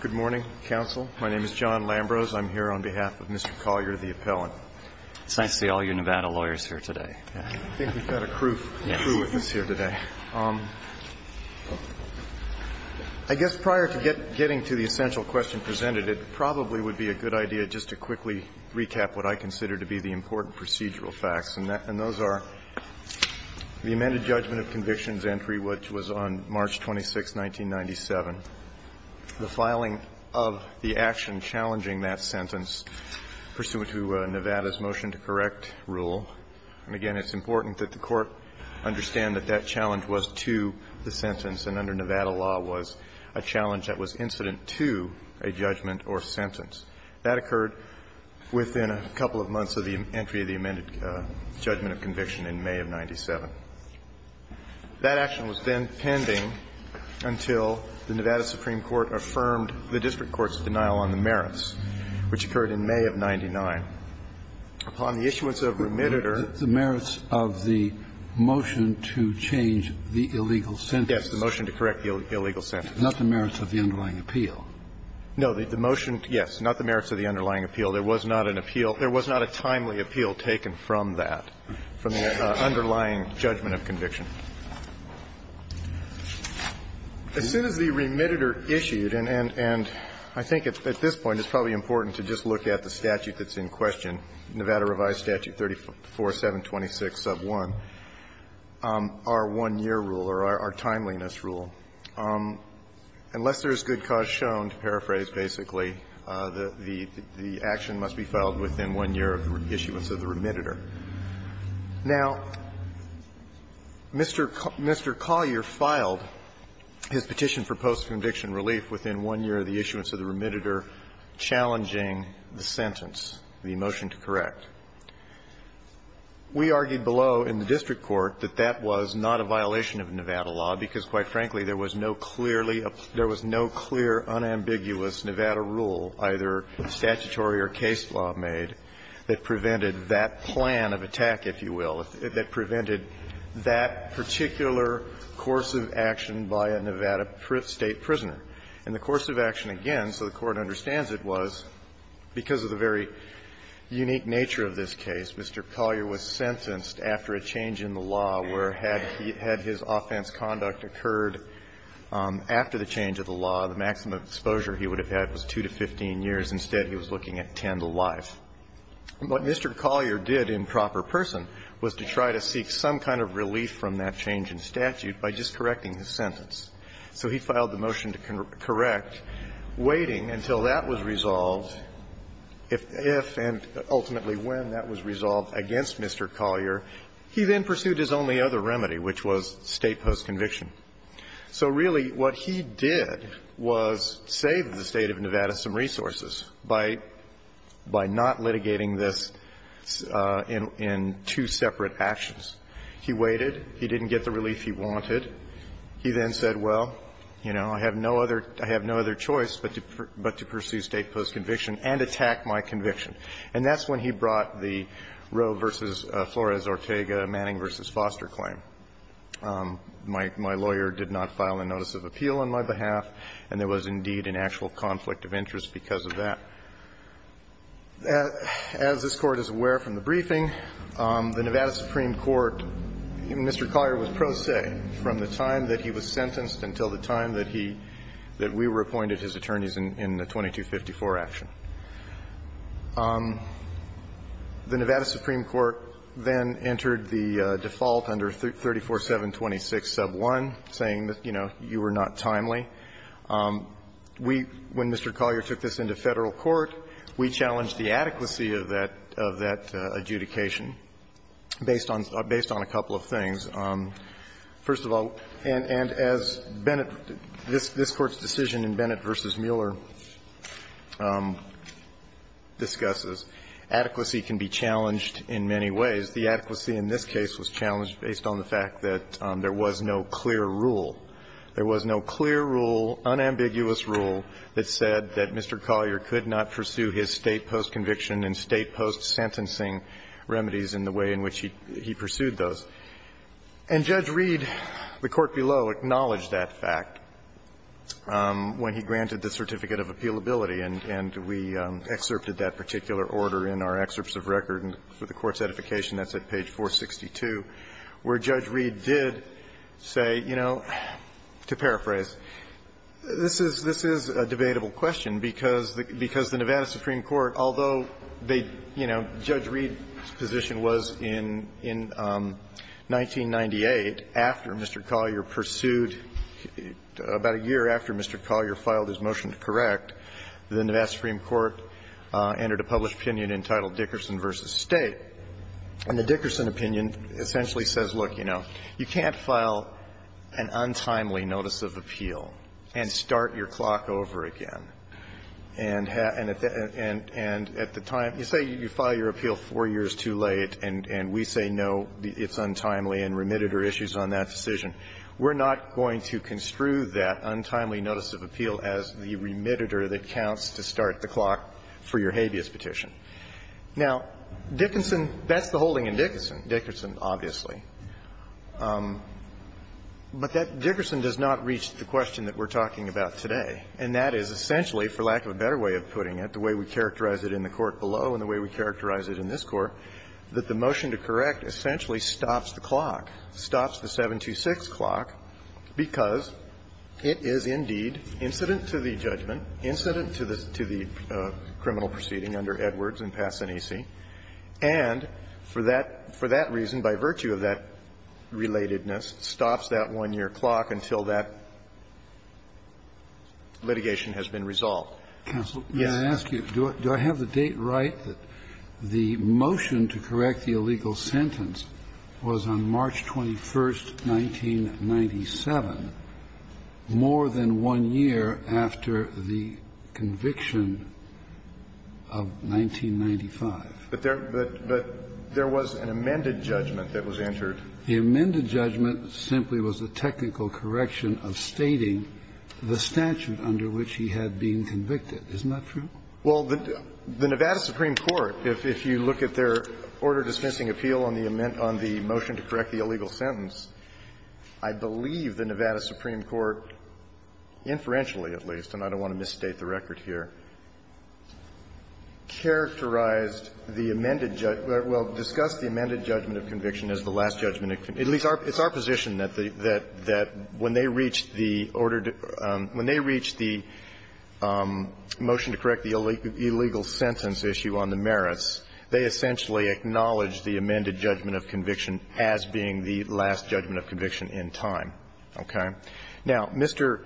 Good morning, counsel. My name is John Lambrose. I'm here on behalf of Mr. Collier, the appellant. It's nice to see all you Nevada lawyers here today. I think we've got a crew witness here today. I guess prior to getting to the essential question presented, it probably would be a good idea just to quickly recap what I consider to be the important procedural facts. And those are the amended judgment of convictions entry, which was on March 26, 1997. The filing of the action challenging that sentence pursuant to Nevada's motion to correct rule. And, again, it's important that the Court understand that that challenge was to the sentence, and under Nevada law was a challenge that was incident to a judgment or sentence. That occurred within a couple of months of the entry of the amended judgment of conviction in May of 1997. That action was then pending until the Nevada Supreme Court affirmed the district court's denial on the merits, which occurred in May of 99. Upon the issuance of remitted or the merits of the motion to change the illegal sentence. Yes, the motion to correct the illegal sentence. Not the merits of the underlying appeal. No. The motion, yes, not the merits of the underlying appeal. There was not an appeal. There was not a timely appeal taken from that, from the underlying judgment of conviction. As soon as the remitted or issued, and I think at this point it's probably important to just look at the statute that's in question, Nevada Revised Statute 34-726 sub 1, our one-year rule or our timeliness rule, unless there is good cause shown, to paraphrase, basically, the action must be filed within one year of the issuance of the remitted or. Now, Mr. Collier filed his petition for post-conviction relief within one year of the issuance of the remitted or, challenging the sentence, the motion to correct. We argued below in the district court that that was not a violation of Nevada law, because, quite frankly, there was no clearly up there was no clear, unambiguous Nevada rule, either statutory or case law made, that prevented that plan of attack, if you will, that prevented that particular course of action by a Nevada state prisoner. And the course of action, again, so the Court understands it, was because of the very unique nature of this case, Mr. Collier was sentenced after a change in the law where had he had his offense conduct occurred after the change of the law, the maximum exposure he would have had was 2 to 15 years. Instead, he was looking at 10 to life. What Mr. Collier did in proper person was to try to seek some kind of relief from that change in statute by just correcting his sentence. So he filed the motion to correct, waiting until that was resolved, if and ultimately when that was resolved against Mr. Collier. He then pursued his only other remedy, which was state postconviction. So really what he did was save the State of Nevada some resources by not litigating this in two separate actions. He waited, he didn't get the relief he wanted, he then said, well, you know, I have no other choice but to pursue state postconviction and attack my conviction. And that's when he brought the Roe v. Flores-Ortega, Manning v. Foster claim. My lawyer did not file a notice of appeal on my behalf, and there was indeed an actual conflict of interest because of that. As this Court is aware from the briefing, the Nevada Supreme Court, Mr. Collier was pro se from the time that he was sentenced until the time that he – that we were appointed his attorneys in the 2254 action. The Nevada Supreme Court then entered the default under 34726 sub 1, saying, you know, you were not timely. We – when Mr. Collier took this into Federal court, we challenged the adequacy of that – of that adjudication based on a couple of things. First of all, and as Bennett – this Court's decision in Bennett v. Mueller, I think, discusses, adequacy can be challenged in many ways. The adequacy in this case was challenged based on the fact that there was no clear rule. There was no clear rule, unambiguous rule, that said that Mr. Collier could not pursue his state postconviction and state post-sentencing remedies in the way in which he – he pursued those. And Judge Reed, the Court below, acknowledged that fact when he granted the Certificate of Appealability, and we excerpted that particular order in our excerpts of record for the Court's edification. That's at page 462, where Judge Reed did say, you know, to paraphrase, this is – this is a debatable question because the – because the Nevada Supreme Court, although they – you know, Judge Reed's position was in – in 1998, after Mr. Collier pursued – about a year after Mr. Collier filed his motion to correct, the Nevada Supreme Court entered a published opinion entitled Dickerson v. State. And the Dickerson opinion essentially says, look, you know, you can't file an untimely notice of appeal and start your clock over again. And at the – and at the time – you say you file your appeal four years too late, and we say, no, it's untimely and remitted are issues on that decision. We're not going to construe that untimely notice of appeal as the remitted-er that counts to start the clock for your habeas petition. Now, Dickerson – that's the holding in Dickerson, Dickerson, obviously. But that – Dickerson does not reach the question that we're talking about today, and that is essentially, for lack of a better way of putting it, the way we characterize it in the Court below and the way we characterize it in this Court, that the motion to correct essentially stops the clock, stops the 7-2-6 clock, because it is, indeed, incident to the judgment, incident to the – to the criminal proceeding under Edwards and Passanisi, and for that – for that reason, by virtue of that relatedness, stops that one-year clock until that litigation has been resolved. Yes. Kennedy. Counsel, may I ask you, do I have the date right that the motion to correct the illegal sentence was on March 21st, 1997, more than one year after the conviction of 1995? But there – but there was an amended judgment that was entered. The amended judgment simply was a technical correction of stating the statute under which he had been convicted. Isn't that true? Well, the Nevada Supreme Court, if you look at their order-dismissing appeal on the motion to correct the illegal sentence, I believe the Nevada Supreme Court, inferentially at least, and I don't want to misstate the record here, characterized the amended – well, discussed the amended judgment of conviction as the last judgment of conviction. It's our position that when they reached the order – when they reached the motion to correct the illegal sentence issue on the merits, they essentially acknowledged the amended judgment of conviction as being the last judgment of conviction in time, okay? Now, Mr.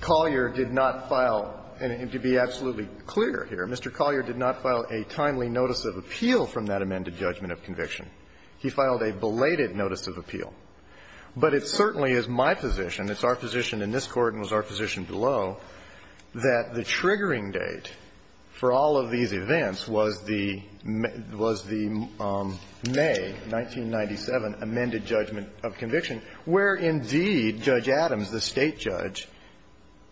Collier did not file – and to be absolutely clear here, Mr. Collier did not file a timely notice of appeal from that amended judgment of conviction. He filed a belated notice of appeal. But it certainly is my position, it's our position in this Court and it's our position below, that the triggering date for all of these events was the – was the May 1997 amended judgment of conviction, where indeed Judge Adams, the State judge,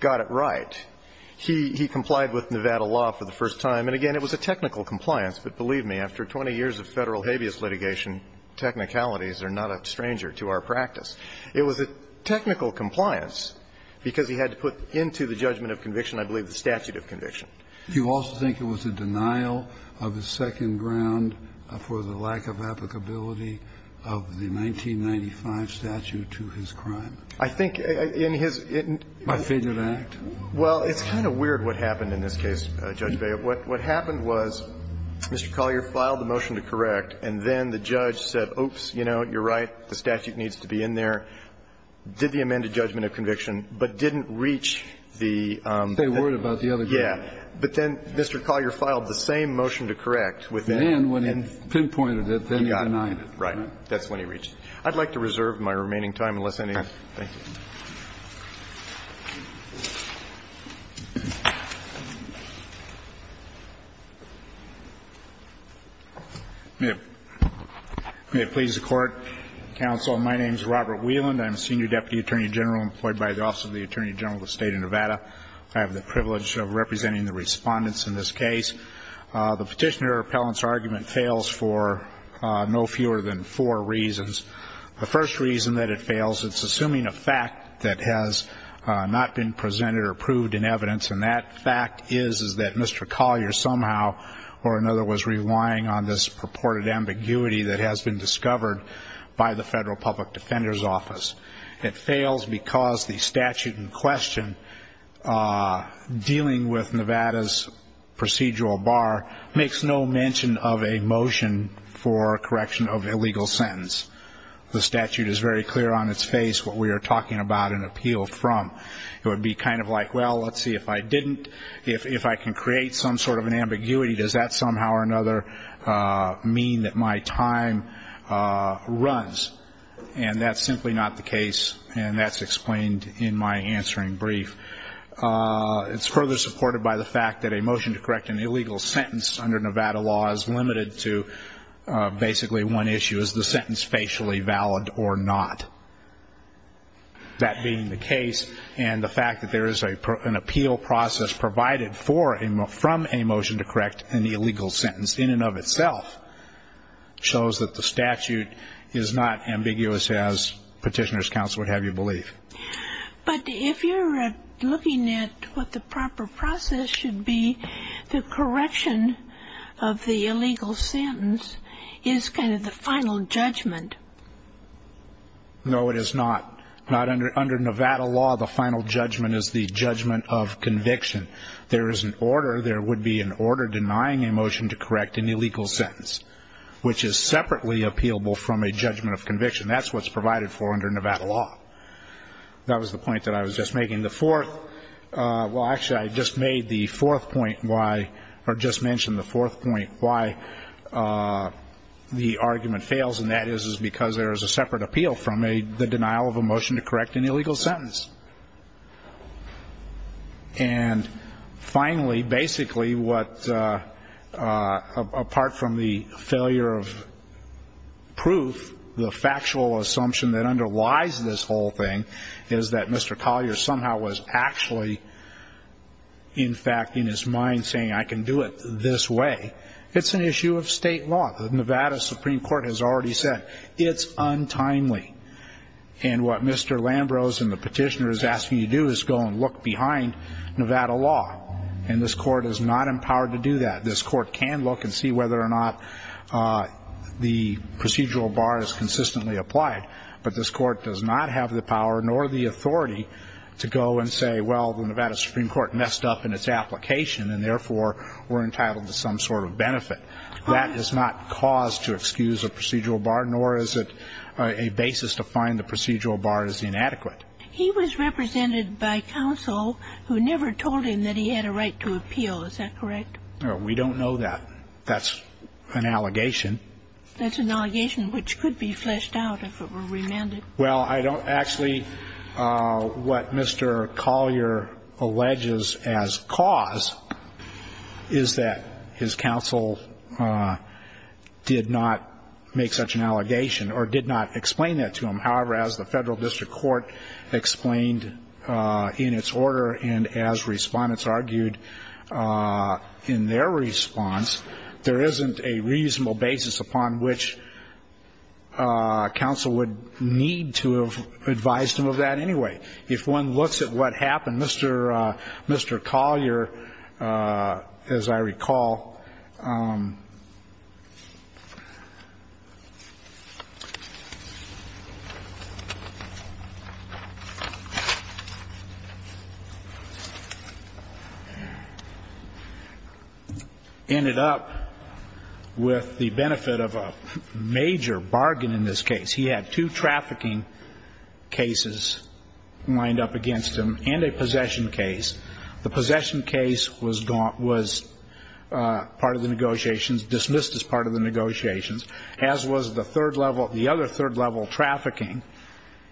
got it right. He – he complied with Nevada law for the first time. And again, it was a technical compliance, but believe me, after 20 years of Federal habeas litigation, technicalities are not a stranger to our practice. It was a technical compliance because he had to put into the judgment of conviction, I believe, the statute of conviction. You also think it was a denial of the second ground for the lack of applicability of the 1995 statute to his crime? I think in his – in his – By fate of act? Well, it's kind of weird what happened in this case, Judge Beyer. What happened was Mr. Collier filed the motion to correct, and then the judge said, oops, you know, you're right, the statute needs to be in there, did the amended judgment of conviction, but didn't reach the – Say a word about the other guy. Yeah. But then Mr. Collier filed the same motion to correct within – And then when he pinpointed it, then he denied it. Right. That's when he reached it. I'd like to reserve my remaining time unless any of you – thank you. May it please the Court, counsel, my name is Robert Wieland, I'm a senior deputy attorney general employed by the Office of the Attorney General of the State of Nevada. I have the privilege of representing the respondents in this case. The Petitioner-Appellant's argument fails for no fewer than four reasons. The first reason that it fails, it's assuming a fact that has not been presented or proved in evidence, and that fact is that Mr. Collier somehow or another was relying on this purported ambiguity that has been discovered by the Federal Public Defender's Office. It fails because the statute in question dealing with Nevada's procedural bar makes no mention of a motion for correction of illegal sentence. The statute is very clear on its face what we are talking about an appeal from. It would be kind of like, well, let's see if I didn't – if I can create some sort of an ambiguity, does that somehow or another mean that my time runs? And that's simply not the case, and that's explained in my answering brief. It's further supported by the fact that a motion to correct an illegal sentence under Nevada's procedural bar is limited to basically one issue, is the sentence facially valid or not. That being the case, and the fact that there is an appeal process provided from a motion to correct an illegal sentence in and of itself shows that the statute is not ambiguous as Petitioner's counsel would have you believe. But if you're looking at what the proper process should be, the correction of the illegal sentence is kind of the final judgment. No, it is not. Not under Nevada law, the final judgment is the judgment of conviction. There is an order – there would be an order denying a motion to correct an illegal sentence, which is separately appealable from a judgment of conviction. That's what's provided for under Nevada law. That was the point that I was just making. The fourth – well, actually, I just made the fourth point why – or just mentioned the fourth point why the argument fails, and that is because there is a separate appeal from the denial of a motion to correct an illegal sentence. And finally, basically, what – apart from the failure of proof, the factual assumption that underlies this whole thing is that Mr. Collier somehow was actually, in fact, in his mind saying, I can do it this way. It's an issue of state law. The Nevada Supreme Court has already said it's untimely. And what Mr. Lambrose and the petitioner is asking you to do is go and look behind Nevada law, and this Court is not empowered to do that. This Court can look and see whether or not the procedural bar is consistently applied, but this Court does not have the power nor the authority to go and say, well, the Nevada Supreme Court messed up in its application, and therefore, we're entitled to some sort of benefit. That is not cause to excuse a procedural bar, nor is it a basis to find the procedural bar is inadequate. He was represented by counsel who never told him that he had a right to appeal. Is that correct? We don't know that. That's an allegation. That's an allegation which could be fleshed out if it were remanded. Well, actually, what Mr. Collier alleges as cause is that his counsel did not make such an allegation or did not explain that to him. However, as the Federal District Court explained in its order and as Respondents argued in their response, there isn't a reasonable basis upon which counsel would need to have advised him of that anyway. If one looks at what happened, Mr. Collier, as I recall, ended up with the benefit of a major bargain in this case. He had two trafficking cases lined up against him and a possession case. The possession case was part of the negotiations, dismissed as part of the negotiations, as was the third level, the other third level trafficking.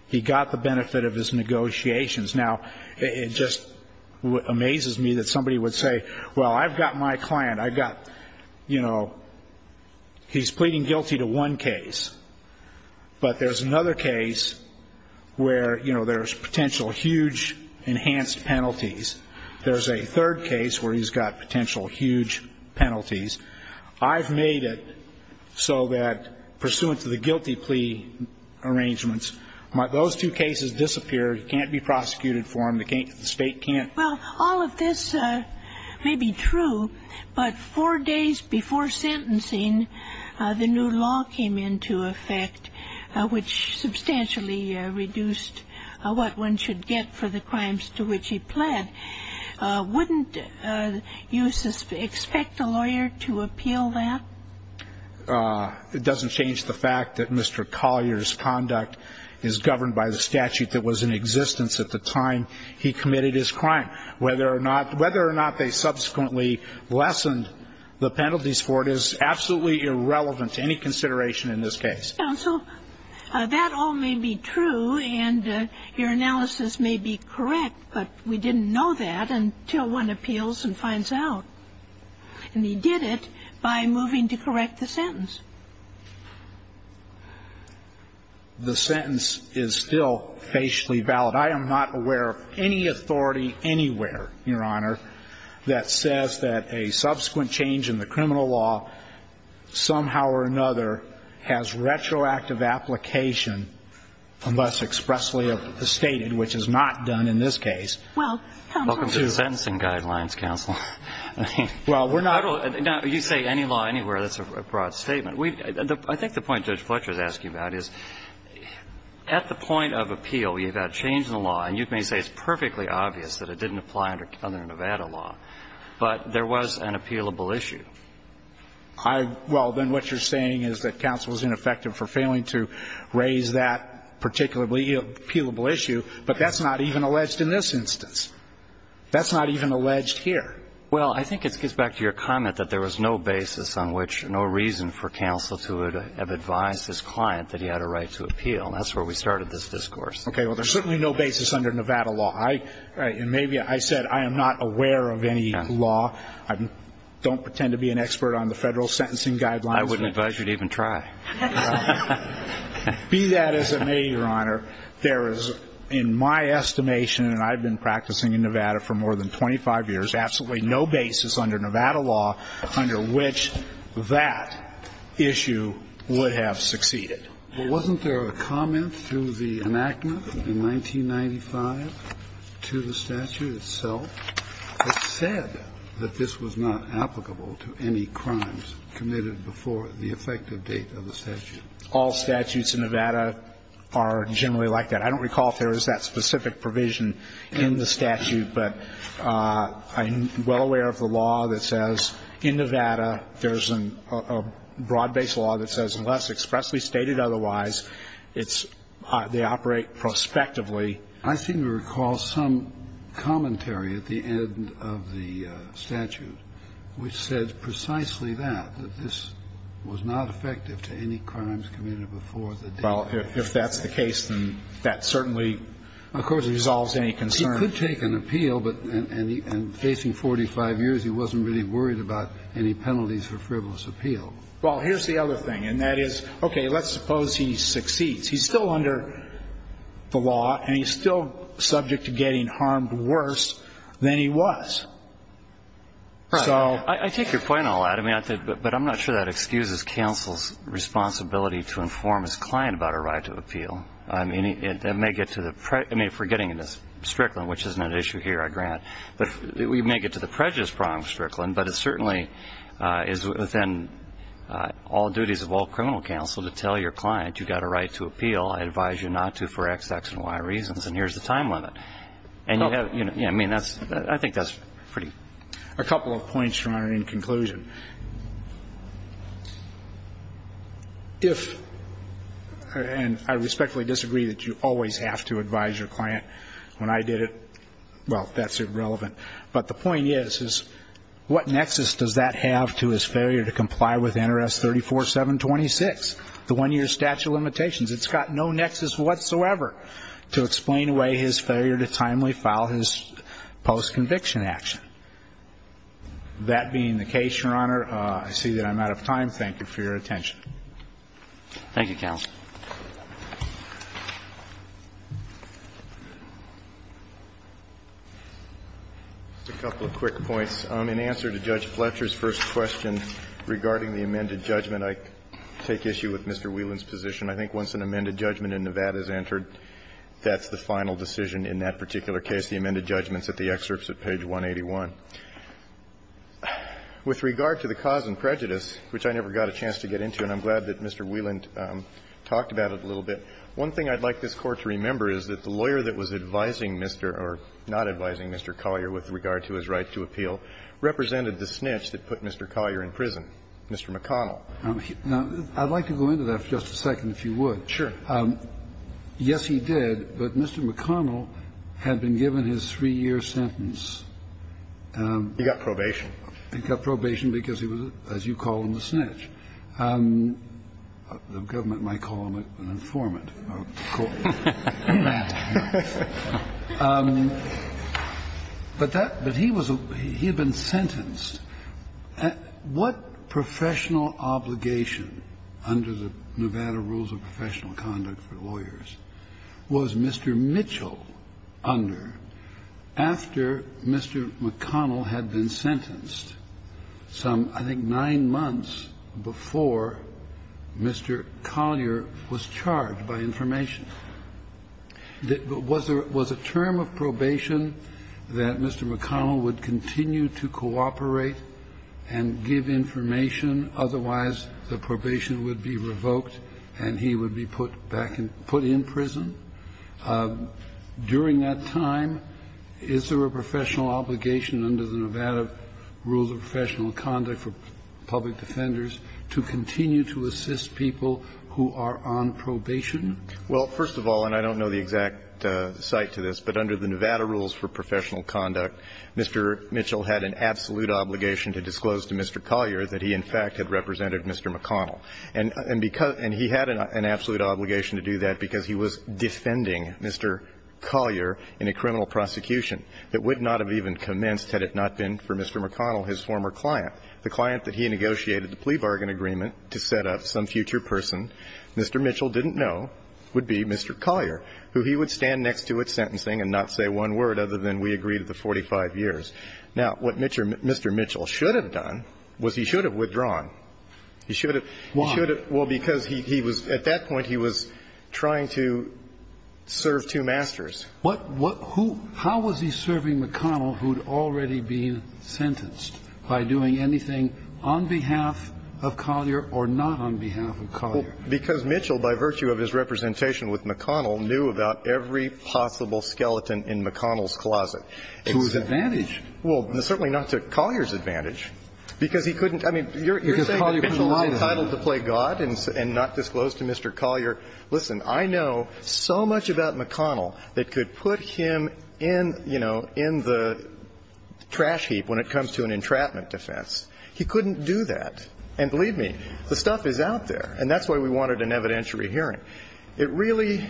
He got the benefit of his negotiations. Now, it just amazes me that somebody would say, well, I've got my client. I've got, you know, he's pleading guilty to one case. But there's another case where, you know, there's potential huge enhanced penalties. There's a third case where he's got potential huge penalties. I've made it so that pursuant to the guilty plea arrangements, those two cases disappear. He can't be prosecuted for them. The State can't. Well, all of this may be true, but four days before sentencing, the new law came into effect, which substantially reduced what one should get for the crimes to which he pled. Wouldn't you expect a lawyer to appeal that? It doesn't change the fact that Mr. Collier's conduct is governed by the statute that was in existence at the time he committed his crime. Whether or not they subsequently lessened the penalties for it is absolutely irrelevant to any consideration in this case. Counsel, that all may be true, and your analysis may be correct, but we didn't know that until one appeals and finds out. And he did it by moving to correct the sentence. The sentence is still facially valid. I am not aware of any authority anywhere, Your Honor, that says that a subsequent change in the criminal law somehow or another has retroactive application unless expressly stated, which is not done in this case. Well, come on. Welcome to the Sentencing Guidelines, Counsel. Well, we're not. You say any law anywhere. That's a broad statement. I think the point Judge Fletcher is asking about is at the point of appeal, you've got change in the law, and you can say it's perfectly obvious that it didn't apply under Nevada law, but there was an appealable issue. Well, then what you're saying is that counsel is ineffective for failing to raise that particularly appealable issue, but that's not even alleged in this instance. That's not even alleged here. Well, I think it gets back to your comment that there was no basis on which no reason for counsel to have advised his client that he had a right to appeal. That's where we started this discourse. Okay. Well, there's certainly no basis under Nevada law. And maybe I said I am not aware of any law. I don't pretend to be an expert on the Federal Sentencing Guidelines. I wouldn't advise you to even try. Be that as it may, Your Honor, there is, in my estimation, and I've been practicing in Nevada for more than 25 years, absolutely no basis under Nevada law under which that issue would have succeeded. But wasn't there a comment through the enactment in 1995 to the statute itself that said that this was not applicable to any crimes committed before the effective date of the statute? All statutes in Nevada are generally like that. I don't recall if there is that specific provision in the statute, but I'm well aware of the law that says in Nevada there's a broad-based law that says unless expressly stated otherwise, it's they operate prospectively. I seem to recall some commentary at the end of the statute which said precisely that, that this was not effective to any crimes committed before the date. Well, if that's the case, then that certainly, of course, resolves any concern. He could take an appeal, but in facing 45 years, he wasn't really worried about any penalties for frivolous appeal. Well, here's the other thing, and that is, okay, let's suppose he succeeds. He's still under the law, and he's still subject to getting harmed worse than he was. So. I take your point all out. But I'm not sure that excuses counsel's responsibility to inform his client about a right to appeal. I mean, it may get to the prejudice. I mean, if we're getting into Strickland, which isn't an issue here, I grant. But we may get to the prejudice problem of Strickland, but it certainly is within all duties of all criminal counsel to tell your client you've got a right to appeal. I advise you not to for X, X, and Y reasons, and here's the time limit. I mean, I think that's pretty. A couple of points, Your Honor, in conclusion. If, and I respectfully disagree that you always have to advise your client. When I did it, well, that's irrelevant. But the point is, is what nexus does that have to his failure to comply with NRS 34-726, the one-year statute of limitations? It's got no nexus whatsoever to explain away his failure to timely file his post-conviction action. That being the case, Your Honor, I see that I'm out of time. Thank you for your attention. Thank you, counsel. Just a couple of quick points. In answer to Judge Fletcher's first question regarding the amended judgment, I take issue with Mr. Whelan's position. I think once an amended judgment in Nevada is entered, that's the final decision in that particular case. And I think that's the case with the amended judgments at the excerpts at page 181. With regard to the cause and prejudice, which I never got a chance to get into and I'm glad that Mr. Whelan talked about it a little bit, one thing I'd like this Court to remember is that the lawyer that was advising Mr. or not advising Mr. Collier with regard to his right to appeal represented the snitch that put Mr. Collier in prison, Mr. McConnell. Now, I'd like to go into that for just a second, if you would. Sure. Yes, he did, but Mr. McConnell had been given his three-year sentence. He got probation. He got probation because he was, as you call him, the snitch. The government might call him an informant. But that he was a he had been sentenced. What professional obligation under the Nevada Rules of Professional Conduct for Lawyers was Mr. Mitchell under after Mr. McConnell had been sentenced some, I think, nine months before Mr. Collier was charged by information? Was there was a term of probation that Mr. McConnell would continue to cooperate and give information, otherwise the probation would be revoked and he would be put back in put in prison? During that time, is there a professional obligation under the Nevada Rules of Professional Conduct for public defenders to continue to assist people who are on probation? Well, first of all, and I don't know the exact cite to this, but under the Nevada Rules for Professional Conduct, Mr. Mitchell had an absolute obligation to disclose to Mr. Collier that he, in fact, had represented Mr. McConnell. And he had an absolute obligation to do that because he was defending Mr. Collier in a criminal prosecution that would not have even commenced had it not been for Mr. And the other thing that Mr. Mitchell did not know was that he was serving two masters for a client, the client that he negotiated the plea bargain agreement to set up some future person. Mr. Mitchell didn't know would be Mr. Collier, who he would stand next to at sentencing and not say one word other than we agreed at the 45 years. Now, what Mr. Mitchell should have done was he should have withdrawn. He should have he should have. Why? Well, because he was at that point he was trying to serve two masters. What what who how was he serving McConnell who had already been sentenced by doing anything on behalf of Collier or not on behalf of Collier? Because Mitchell, by virtue of his representation with McConnell, knew about every possible skeleton in McConnell's closet. To his advantage. Well, certainly not to Collier's advantage because he couldn't. I mean, you're saying that he was entitled to play God and not disclose to Mr. Collier. Listen, I know so much about McConnell that could put him in, you know, in the trash heap when it comes to an entrapment defense. He couldn't do that. And believe me, the stuff is out there. And that's why we wanted an evidentiary hearing. It really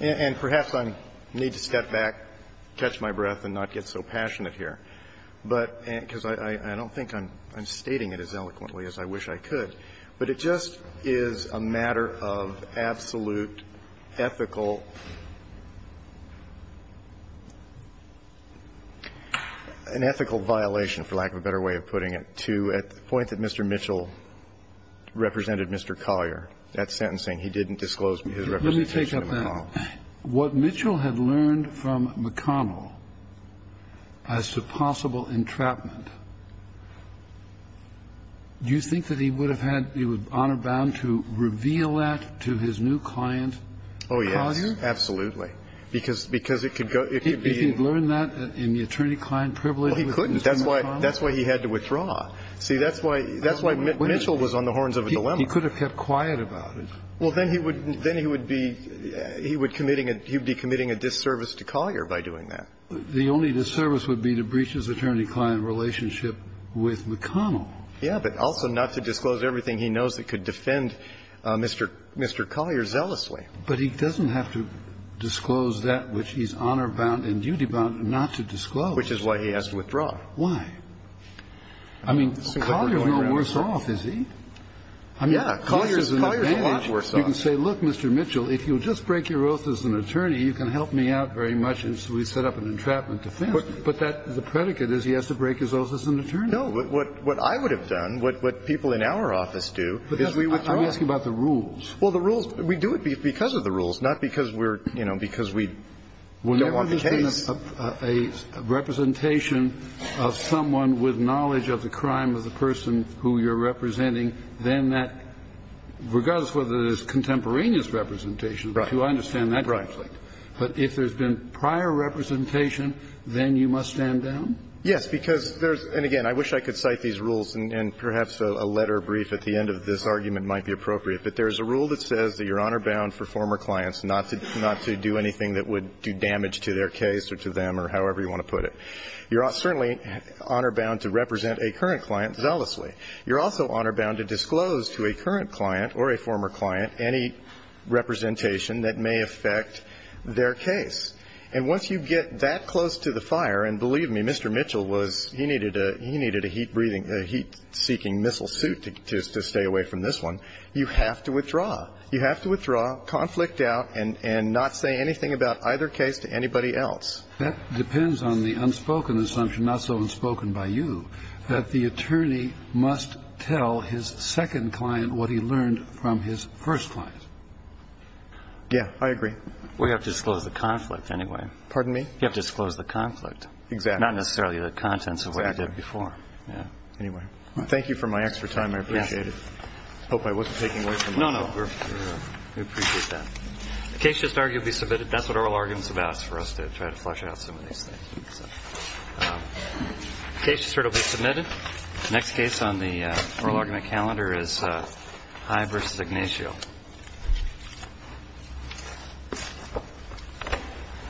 and perhaps I need to step back, catch my breath and not get so passionate here, but because I don't think I'm stating it as eloquently as I wish I could. But it just is a matter of absolute ethical, an ethical violation, for lack of a better way of putting it, to the point that Mr. Mitchell represented Mr. Collier. That sentencing, he didn't disclose his representation to McConnell. What Mitchell had learned from McConnell as to possible entrapment, do you think that he would have had the honor bound to reveal that to his new client, Collier? Oh, yes. Absolutely. Because it could be. If he had learned that in the attorney-client privilege. Well, he couldn't. That's why he had to withdraw. See, that's why Mitchell was on the horns of a dilemma. He could have kept quiet about it. Well, then he would be committing a disservice to Collier by doing that. The only disservice would be to breach his attorney-client relationship with McConnell. Yes, but also not to disclose everything he knows that could defend Mr. Collier zealously. But he doesn't have to disclose that which he's honor bound and duty bound not to disclose. Which is why he has to withdraw. Why? I mean, Collier is no worse off, is he? Yes. Collier is a lot worse off. You can say, look, Mr. Mitchell, if you'll just break your oath as an attorney, you can help me out very much, and so we set up an entrapment defense. But the predicate is he has to break his oath as an attorney. No. What I would have done, what people in our office do, is we withdraw. I'm asking about the rules. Well, the rules. We do it because of the rules, not because we're, you know, because we don't want the case. Whenever there's been a representation of someone with knowledge of the crime of the representing, then that, regardless whether there's contemporaneous representation, which I understand that conflict. But if there's been prior representation, then you must stand down? Yes, because there's – and, again, I wish I could cite these rules, and perhaps a letter brief at the end of this argument might be appropriate. But there's a rule that says that you're honor bound for former clients not to do anything that would do damage to their case or to them or however you want to put it. You're certainly honor bound to represent a current client zealously. You're also honor bound to disclose to a current client or a former client any representation that may affect their case. And once you get that close to the fire, and believe me, Mr. Mitchell was – he needed a heat-breathing – a heat-seeking missile suit to stay away from this one, you have to withdraw. You have to withdraw, conflict out, and not say anything about either case to anybody That depends on the unspoken assumption, not so unspoken by you, that the attorney must tell his second client what he learned from his first client. Yeah, I agree. We have to disclose the conflict anyway. Pardon me? You have to disclose the conflict. Exactly. Not necessarily the contents of what I did before. Anyway, thank you for my extra time. I appreciate it. I hope I wasn't taking away from much. No, no. We appreciate that. The case just arguably submitted. That's what oral argument is about, for us to try to flesh out some of these things. Case just arguably submitted. Next case on the oral argument calendar is High v. Ignacio.